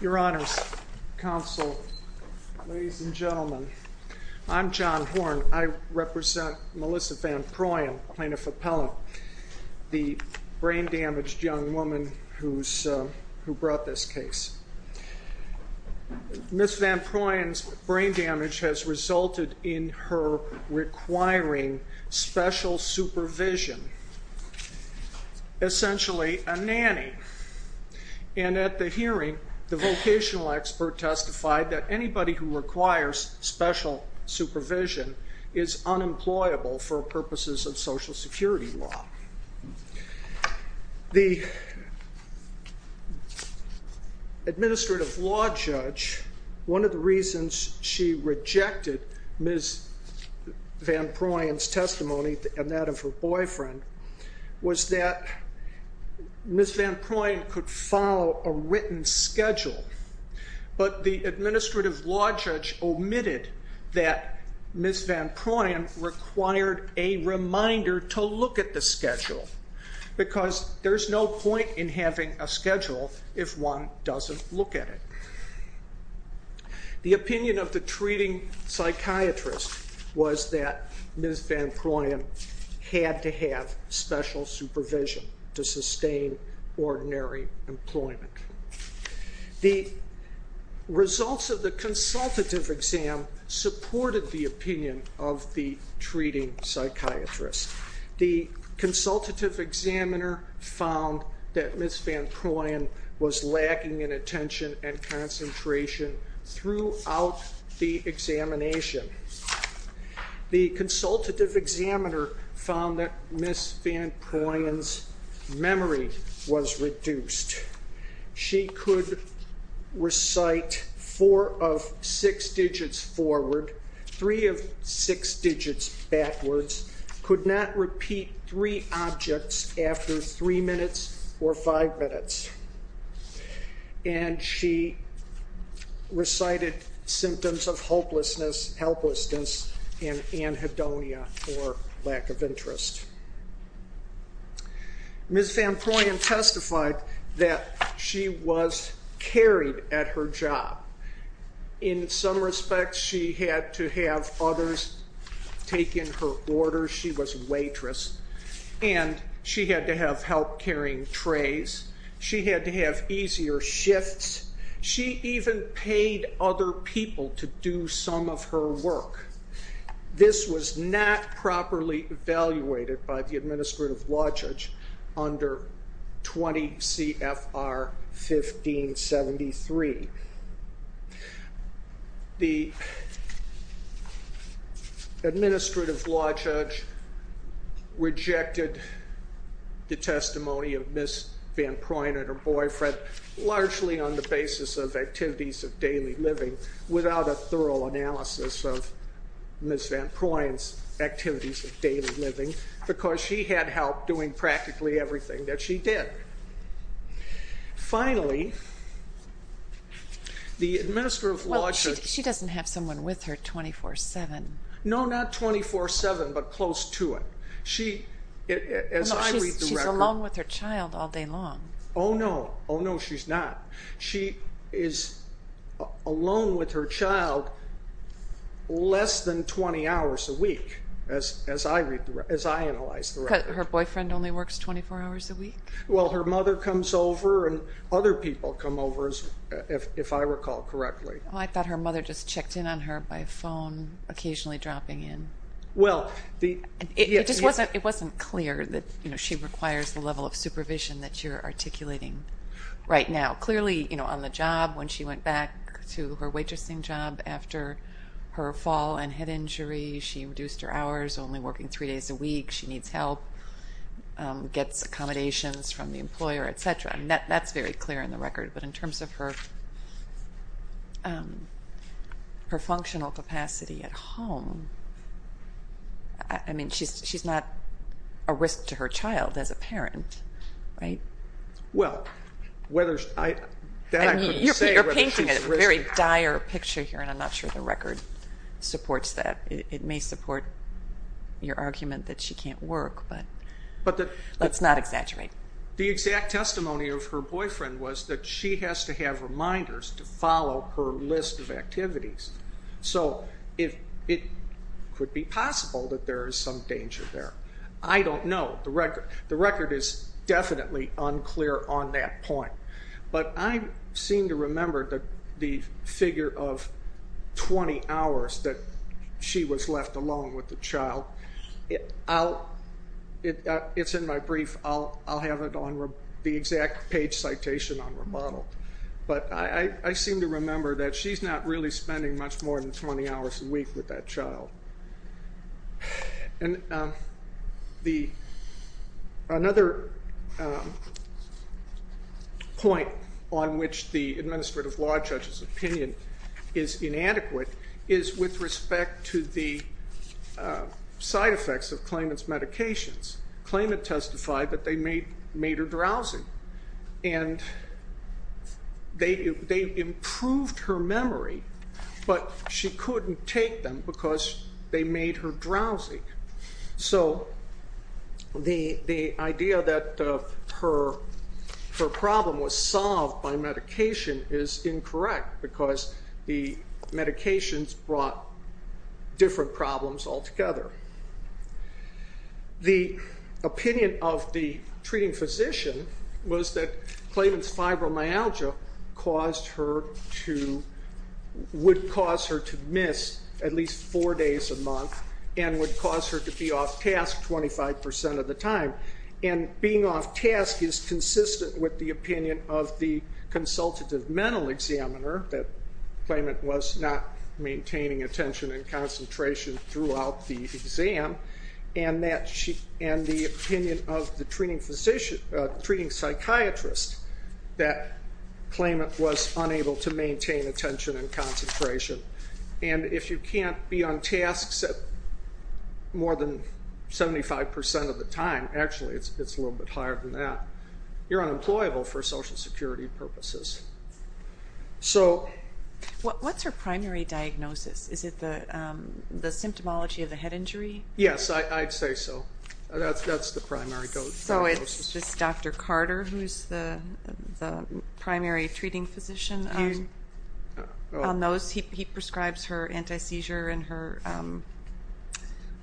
Your honors, counsel, ladies and gentlemen, I'm John Horn. I represent Melissa Vanproyen, plaintiff appellant, the brain-damaged young woman who brought this case. Ms. Vanproyen's brain damage has resulted in her requiring special supervision, essentially a nanny. And at the hearing, the vocational expert testified that anybody who requires special supervision is unemployable for purposes of Social Security law. The administrative law judge, one of the reasons she rejected Ms. Vanproyen's testimony and that of her boyfriend was that Ms. Vanproyen could follow a written schedule, but the administrative law judge omitted that Ms. Vanproyen required a reminder to look at the schedule, because there's no point in having a schedule if one doesn't look at it. The opinion of the treating psychiatrist was that Ms. Vanproyen had to have special supervision to sustain ordinary employment. The results of the consultative exam supported the opinion of the treating psychiatrist. The consultative examiner found that Ms. Vanproyen was lacking in attention and concentration throughout the examination. The consultative examiner found that Ms. Vanproyen's memory was reduced. She could recite four of six digits forward, three of six digits backwards, could not repeat three objects after three minutes or five minutes, and she recited symptoms of hopelessness, helplessness, and anhedonia, or lack of interest. Ms. Vanproyen testified that she was carried at her job. In some respects, she had to have others take in her orders. She was a waitress, and she had to have help carrying trays. She had to have easier shifts. She even paid other people to do some of her work. This was not properly evaluated by the administrative law judge under 20 CFR 1573. The administrative law judge rejected the basis of activities of daily living without a thorough analysis of Ms. Vanproyen's activities of daily living, because she had help doing practically everything that she did. Finally, the administrative law judge... Well, she doesn't have someone with her 24-7. No, not 24-7, but close to it. She, as I read the record... No, she's alone with her child all day long. Oh, no. Oh, no, she's not. She is alone with her child less than 20 hours a week, as I analyze the record. Her boyfriend only works 24 hours a week? Well, her mother comes over, and other people come over, if I recall correctly. I thought her mother just checked in on her by phone, occasionally dropping in. It just wasn't clear that she requires the level of supervision that you're articulating right now. Clearly, on the job, when she went back to her waitressing job after her fall and head injury, she reduced her hours, only working three days a week. She needs help, gets accommodations from the employer, etc. That's very clear in the record, but in terms of her functional capacity at home, I mean, she's not a risk to her child as a parent, right? Well, whether... I couldn't say whether she's a risk... You're painting a very dire picture here, and I'm not sure the record supports that. It may support your argument that she can't work, but let's not exaggerate. The exact testimony of her boyfriend was that she has to have reminders to follow her list of activities. So it could be possible that there is some danger there. I don't know. The record is definitely unclear on that point. But I seem to remember the figure of 20 hours that she was left alone with the child. It's in my brief. I'll have it on the exact page citation on rebuttal. But I seem to remember that she's not really spending much more than 20 hours a week with that child. Another point on which the administrative law judge's opinion is inadequate is with respect to the side effects of claimant's medications. Claimant testified that they made her drowsy. And they improved her memory, but she couldn't take them because they made her drowsy. So the idea that her problem was solved by medication is incorrect because the medications brought different problems altogether. The opinion of the treating physician was that claimant's fibromyalgia would cause her to miss at least four days a month and would cause her to be off task 25% of the time. And being off task is consistent with the opinion of the consultative mental examiner that claimant was not maintaining attention and concentration throughout the exam and the opinion of the treating psychiatrist that claimant was unable to maintain attention and concentration. And if you can't be on tasks more than 75% of the time, actually it's a little bit higher than that, you're unemployable for social security purposes. So... What's her primary diagnosis? Is it the symptomology of the head injury? Yes, I'd say so. That's the primary diagnosis. So it's just Dr. Carter who's the primary treating physician on those? He prescribes her anti-seizure and her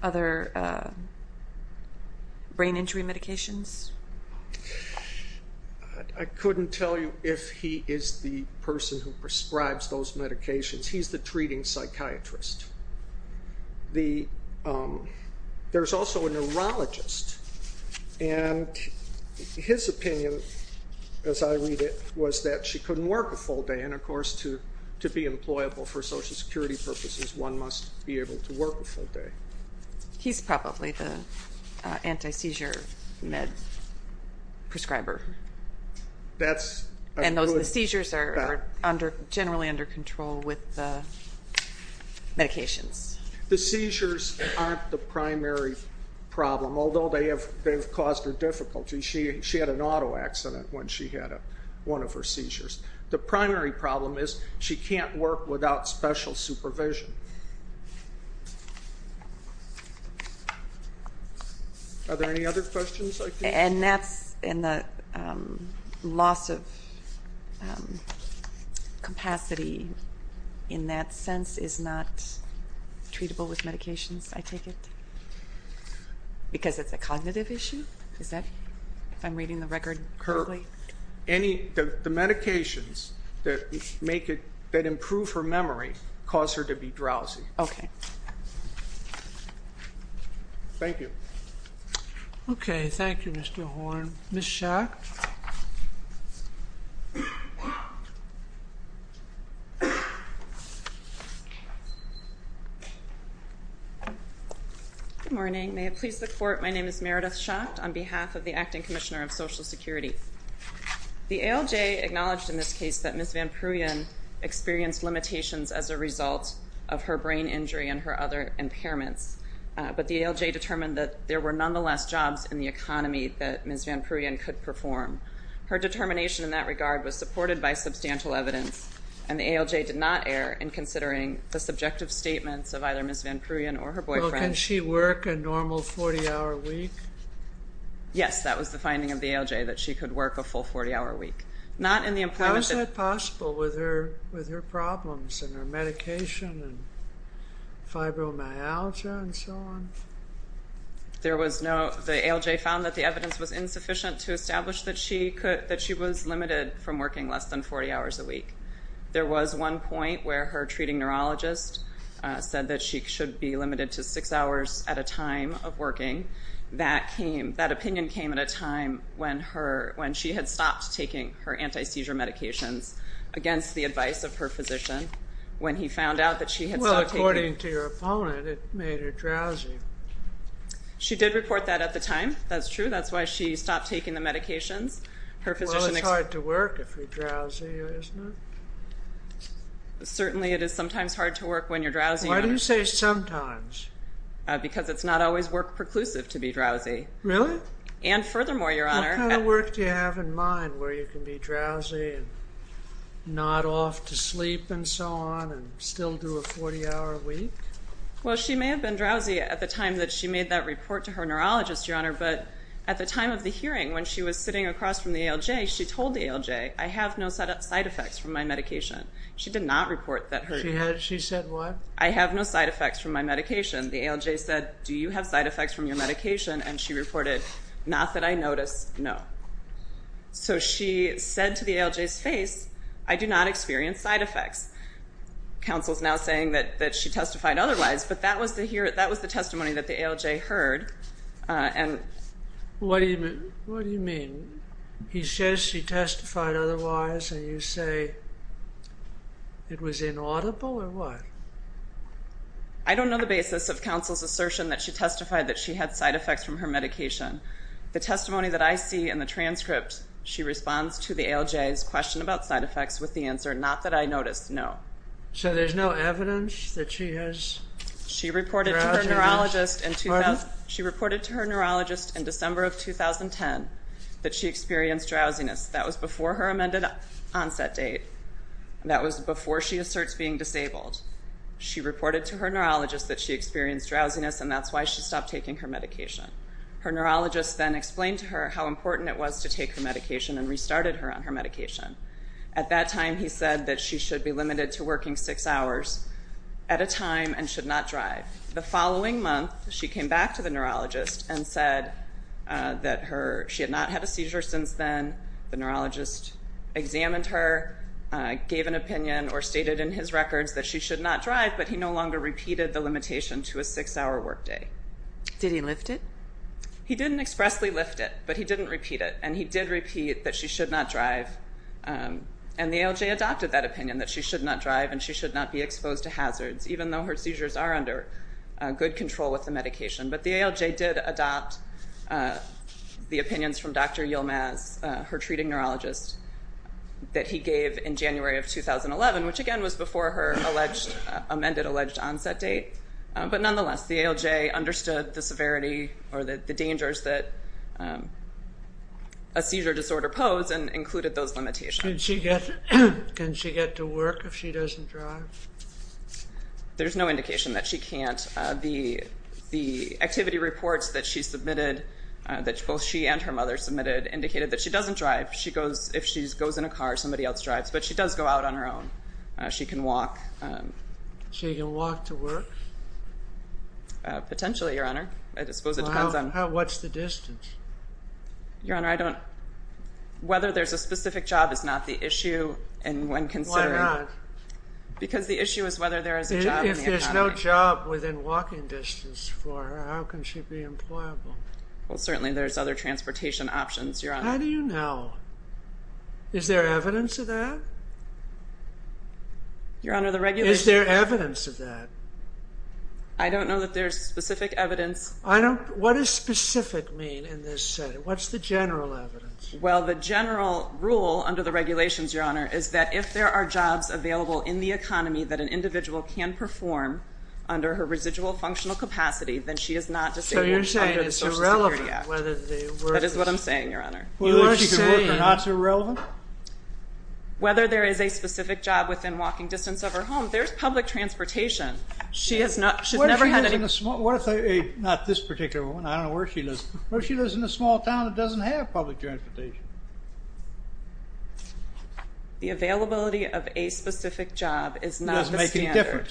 other brain injury medications? I couldn't tell you if he is the person who prescribes those medications. He's the treating psychiatrist. There's also a neurologist. And his opinion, as I read it, was that she couldn't work a full day. And of course, to be employable for social security purposes, one must be able to work a full day. He's probably the anti-seizure med prescriber. And the seizures are generally under control with the medications. The seizures aren't the primary problem, although they have caused her difficulty. She had an auto accident when she had one of her seizures. The primary problem is she can't work without special supervision. Are there any other questions? And the loss of capacity in that sense is not treatable with medications, I take it? Because it's a cognitive issue? If I'm reading the record correctly? The medications that improve her memory cause her to be drowsy. Okay. Thank you. Okay, thank you, Mr. Horn. Ms. Schacht? Good morning. May it please the Court, my name is Meredith Schacht on behalf of the Acting Commissioner of Social Security. The ALJ acknowledged in this case that Ms. Van Pruyen experienced limitations as a result of her brain injury and her other impairments. But the ALJ determined that there were nonetheless jobs in the economy that Ms. Van Pruyen could perform. Her determination in that regard was supported by substantial evidence. And the ALJ did not err in considering the subjective statements of either Ms. Van Pruyen or her boyfriend. Well, can she work a normal 40-hour week? Yes, that was the finding of the ALJ, that she could work a full 40-hour week. How is that possible with her problems and her medication and fibromyalgia and so on? The ALJ found that the evidence was insufficient to establish that she was limited from working less than 40 hours a week. There was one point where her treating neurologist said that she should be limited to 6 hours at a time of working. That opinion came at a time when she had stopped taking her anti-seizure medications against the advice of her physician. Well, according to your opponent, it made her drowsy. She did report that at the time. That's true. That's why she stopped taking the medications. Well, it's hard to work if you're drowsy, isn't it? Certainly, it is sometimes hard to work when you're drowsy. Why do you say sometimes? Because it's not always work-preclusive to be drowsy. Really? And furthermore, Your Honor... What kind of work do you have in mind where you can be drowsy and not off to sleep and so on and still do a 40-hour week? Well, she may have been drowsy at the time that she made that report to her neurologist, Your Honor, but at the time of the hearing, when she was sitting across from the ALJ, she told the ALJ, I have no side effects from my medication. She did not report that. She said what? I have no side effects from my medication. The ALJ said, do you have side effects from your medication? And she reported, not that I noticed, no. So she said to the ALJ's face, I do not experience side effects. Counsel is now saying that she testified otherwise, but that was the testimony that the ALJ heard. What do you mean? He says she testified otherwise and you say it was inaudible or what? I don't know the basis of counsel's assertion that she testified that she had side effects from her medication. The testimony that I see in the transcript, she responds to the ALJ's question about side effects with the answer, not that I noticed, no. So there's no evidence that she has drowsiness? She reported to her neurologist in December of 2010 that she experienced drowsiness. That was before her amended onset date. That was before she asserts being disabled. She reported to her neurologist that she experienced drowsiness and that's why she stopped taking her medication. Her neurologist then explained to her how important it was to take her medication and restarted her on her medication. At that time, he said that she should be limited to working six hours at a time and should not drive. The following month, she came back to the neurologist and said that she had not had a seizure since then The neurologist examined her, gave an opinion or stated in his records that she should not drive but he no longer repeated the limitation to a six-hour workday. Did he lift it? He didn't expressly lift it, but he didn't repeat it. And he did repeat that she should not drive. And the ALJ adopted that opinion, that she should not drive and she should not be exposed to hazards even though her seizures are under good control with the medication. But the ALJ did adopt the opinions from Dr. Yilmaz, her treating neurologist, that he gave in January of 2011 which again was before her amended alleged onset date but nonetheless, the ALJ understood the severity or the dangers that a seizure disorder posed and included those limitations. Can she get to work if she doesn't drive? There's no indication that she can't. The activity reports that she submitted, that both she and her mother submitted indicated that she doesn't drive. If she goes in a car, somebody else drives. But she does go out on her own. She can walk. She can walk to work? Potentially, Your Honor. I suppose it depends on... What's the distance? Whether there's a specific job is not the issue when considering... Why not? Because the issue is whether there is a job in the economy. There's a walking distance for her. How can she be employable? Well, certainly there's other transportation options, Your Honor. How do you know? Is there evidence of that? Your Honor, the regulations... Is there evidence of that? I don't know that there's specific evidence. I don't... What does specific mean in this setting? What's the general evidence? Well, the general rule under the regulations, Your Honor, is that if there are jobs available in the economy that an individual can perform under her residual functional capacity, then she is not disabled under the Social Security Act. So you're saying it's irrelevant whether the work is... That is what I'm saying, Your Honor. Whether she can work or not is irrelevant? Whether there is a specific job within walking distance of her home. There's public transportation. She has never had any... What if she lives in a small... Not this particular one. I don't know where she lives. What if she lives in a small town that doesn't have public transportation? The availability of a specific job is not the standard.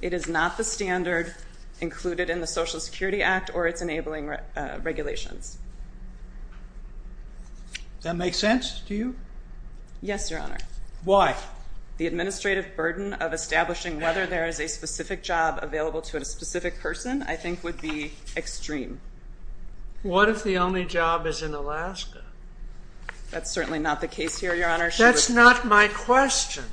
It is not the standard included in the Social Security Act or its enabling regulations. Does that make sense to you? Yes, Your Honor. Why? The administrative burden of establishing whether there is a specific job available to a specific person I think would be extreme. What if the only job is in Alaska? That's certainly not the case here, Your Honor. That's not my question.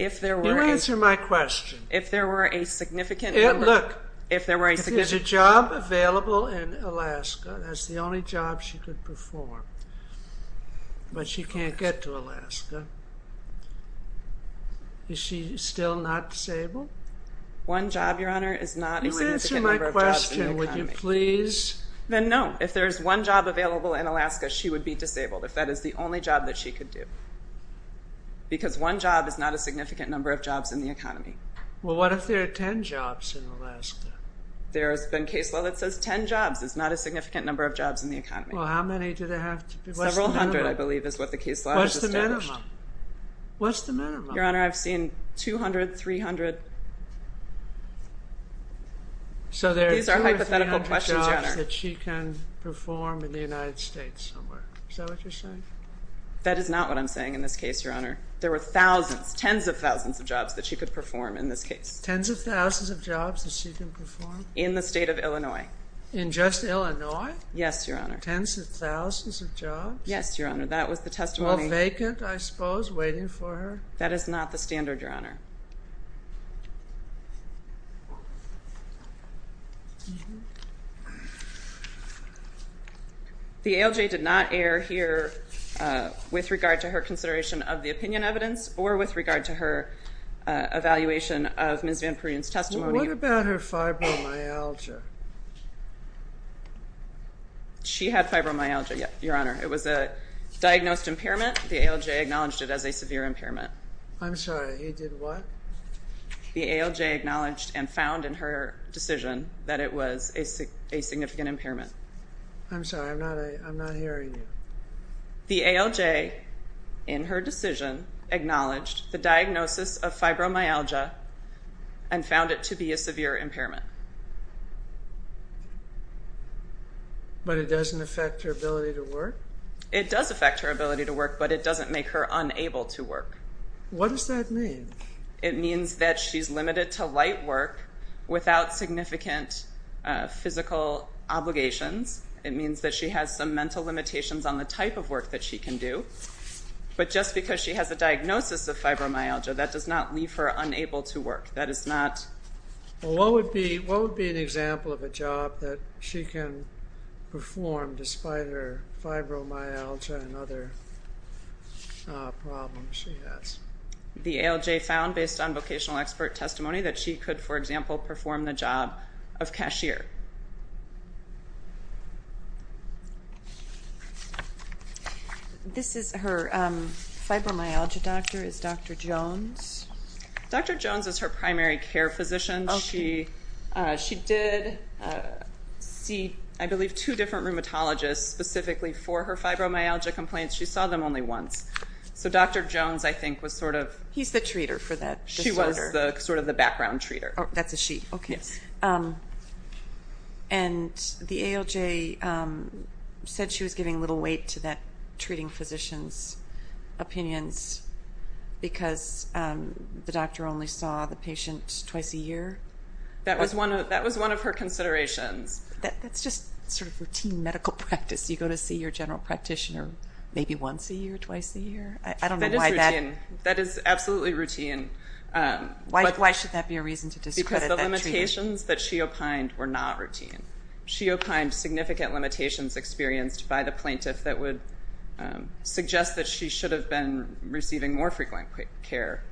If there were a... You answer my question. If there were a significant number... Look, if there's a job available in Alaska, that's the only job she could perform, but she can't get to Alaska, is she still not disabled? One job, Your Honor, is not a significant number of jobs in the economy. You answer my question, would you please? Then no. If there's one job available in Alaska, she would be disabled. If that is the only job that she could do. Because one job is not a significant number of jobs in the economy. Well, what if there are 10 jobs in Alaska? There's been case law that says 10 jobs is not a significant number of jobs in the economy. Well, how many do they have to be? Several hundred, I believe, is what the case law has established. What's the minimum? Your Honor, I've seen 200, 300... These are hypothetical questions, Your Honor. So there are 200 or 300 jobs that she can perform in the United States somewhere. Is that what you're saying? That is not what I'm saying in this case, Your Honor. There were thousands, tens of thousands of jobs that she could perform in this case. Tens of thousands of jobs that she can perform? In the state of Illinois. In just Illinois? Yes, Your Honor. Tens of thousands of jobs? Yes, Your Honor. All vacant, I suppose, waiting for her? That is not the standard, Your Honor. The ALJ did not err here with regard to her consideration of the opinion evidence or with regard to her evaluation of Ms. Van Pruden's testimony. What about her fibromyalgia? She had fibromyalgia, Your Honor. It was a diagnosed impairment. The ALJ acknowledged it as a severe impairment. I'm sorry, he did what? The ALJ acknowledged and found in her decision that it was a significant impairment. I'm sorry, I'm not hearing you. The ALJ in her decision acknowledged the diagnosis of fibromyalgia and found it to be a severe impairment. But it doesn't affect her ability to work? It does affect her ability to work, but it doesn't make her unable to work. What does that mean? It means that she's limited to light work without significant physical obligations. It means that she has some mental limitations on the type of work that she can do. But just because she has a diagnosis of fibromyalgia, that does not leave her unable to work. That is not... What would be an example of a job that she can perform despite her fibromyalgia and other problems she has? The ALJ found, based on vocational expert testimony, that she could, for example, perform the job of cashier. This is her fibromyalgia doctor. Is Dr. Jones... Dr. Jones is her primary care physician. She did see, I believe, two different rheumatologists specifically for her fibromyalgia complaints. She saw them only once. So Dr. Jones, I think, was sort of... was sort of the background treater. And the ALJ said she was giving little weight to that treating physician's opinions because the doctor only saw the patient twice a year? That was one of her considerations. That's just sort of routine medical practice. You go to see your general practitioner maybe once a year, twice a year? I don't know why that... That is absolutely routine. Why should that be a reason to discredit that treatment? Because the limitations that she opined were not routine. She opined significant limitations experienced by the plaintiff that would suggest that she should have been receiving more frequent care.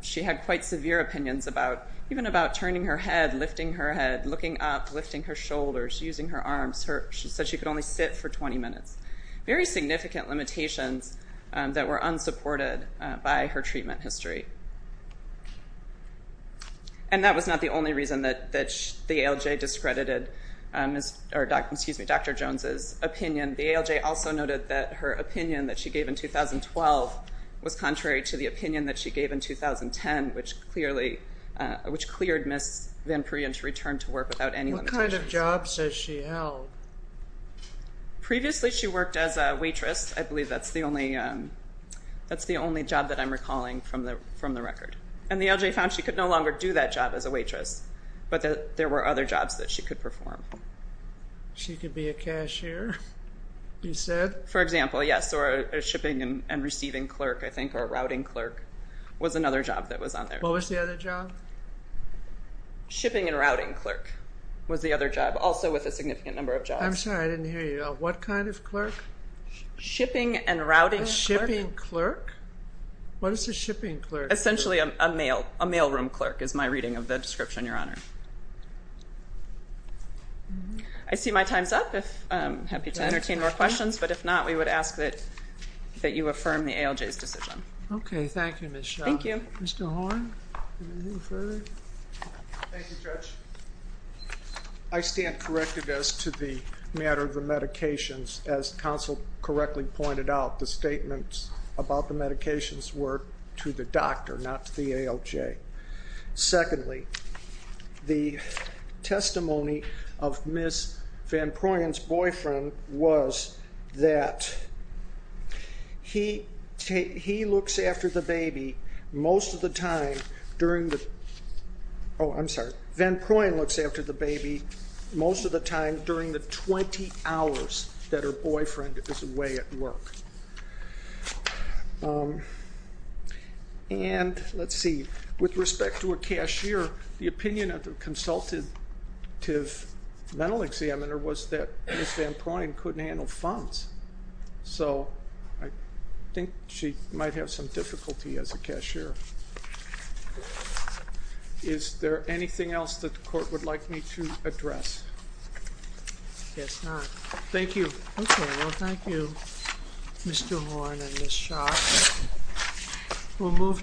She had quite severe opinions about... even about turning her head, lifting her head, looking up, lifting her shoulders, using her arms. She said she could only sit for 20 minutes. Very significant limitations that were unsupported by her treatment history. And that was not the only reason that the ALJ discredited Dr. Jones's opinion. The ALJ also noted that her opinion that she gave in 2012 was contrary to the opinion that she gave in 2010, which clearly... which cleared Ms. Van Perien to return to work without any limitations. What kind of jobs has she held? Previously she worked as a waitress. I believe that's the only... that's the only job that I'm recalling from the record. And the ALJ found she could no longer do that job as a waitress, but that there were other jobs that she could perform. She could be a cashier, you said? For example, yes, or a shipping and receiving clerk, I think, or a routing clerk was another job that was on there. What was the other job? Shipping and routing clerk was the other job, also with a significant number of jobs. I'm sorry, I didn't hear you. What kind of clerk? Shipping and routing clerk. A shipping clerk? What is a shipping clerk? Essentially a mail... a mailroom clerk is my reading of the description, Your Honor. I see my time's up. I'm happy to entertain more questions, but if not, we would ask that you affirm the ALJ's decision. Okay, thank you, Ms. Shaw. Thank you. Mr. Horne? Anything further? Thank you, Judge. I stand corrected as to the matter of the medications. As counsel correctly pointed out, the statements about the medications were to the doctor, not to the ALJ. Secondly, the testimony of Ms. Van Prooyen's boyfriend was that he looks after the baby most of the time during the... Oh, I'm sorry. Van Prooyen looks after the baby most of the time during the 20 hours that her boyfriend is away at work. And, let's see, with respect to a cashier, the opinion of the consultative mental examiner was that Ms. Van Prooyen couldn't handle funds, so I think she might have some difficulty as a cashier. Is there anything else that the court would like me to address? I guess not. Thank you. Okay, well, thank you, Mr. Horne and Ms. Shaw. We'll move to the next item.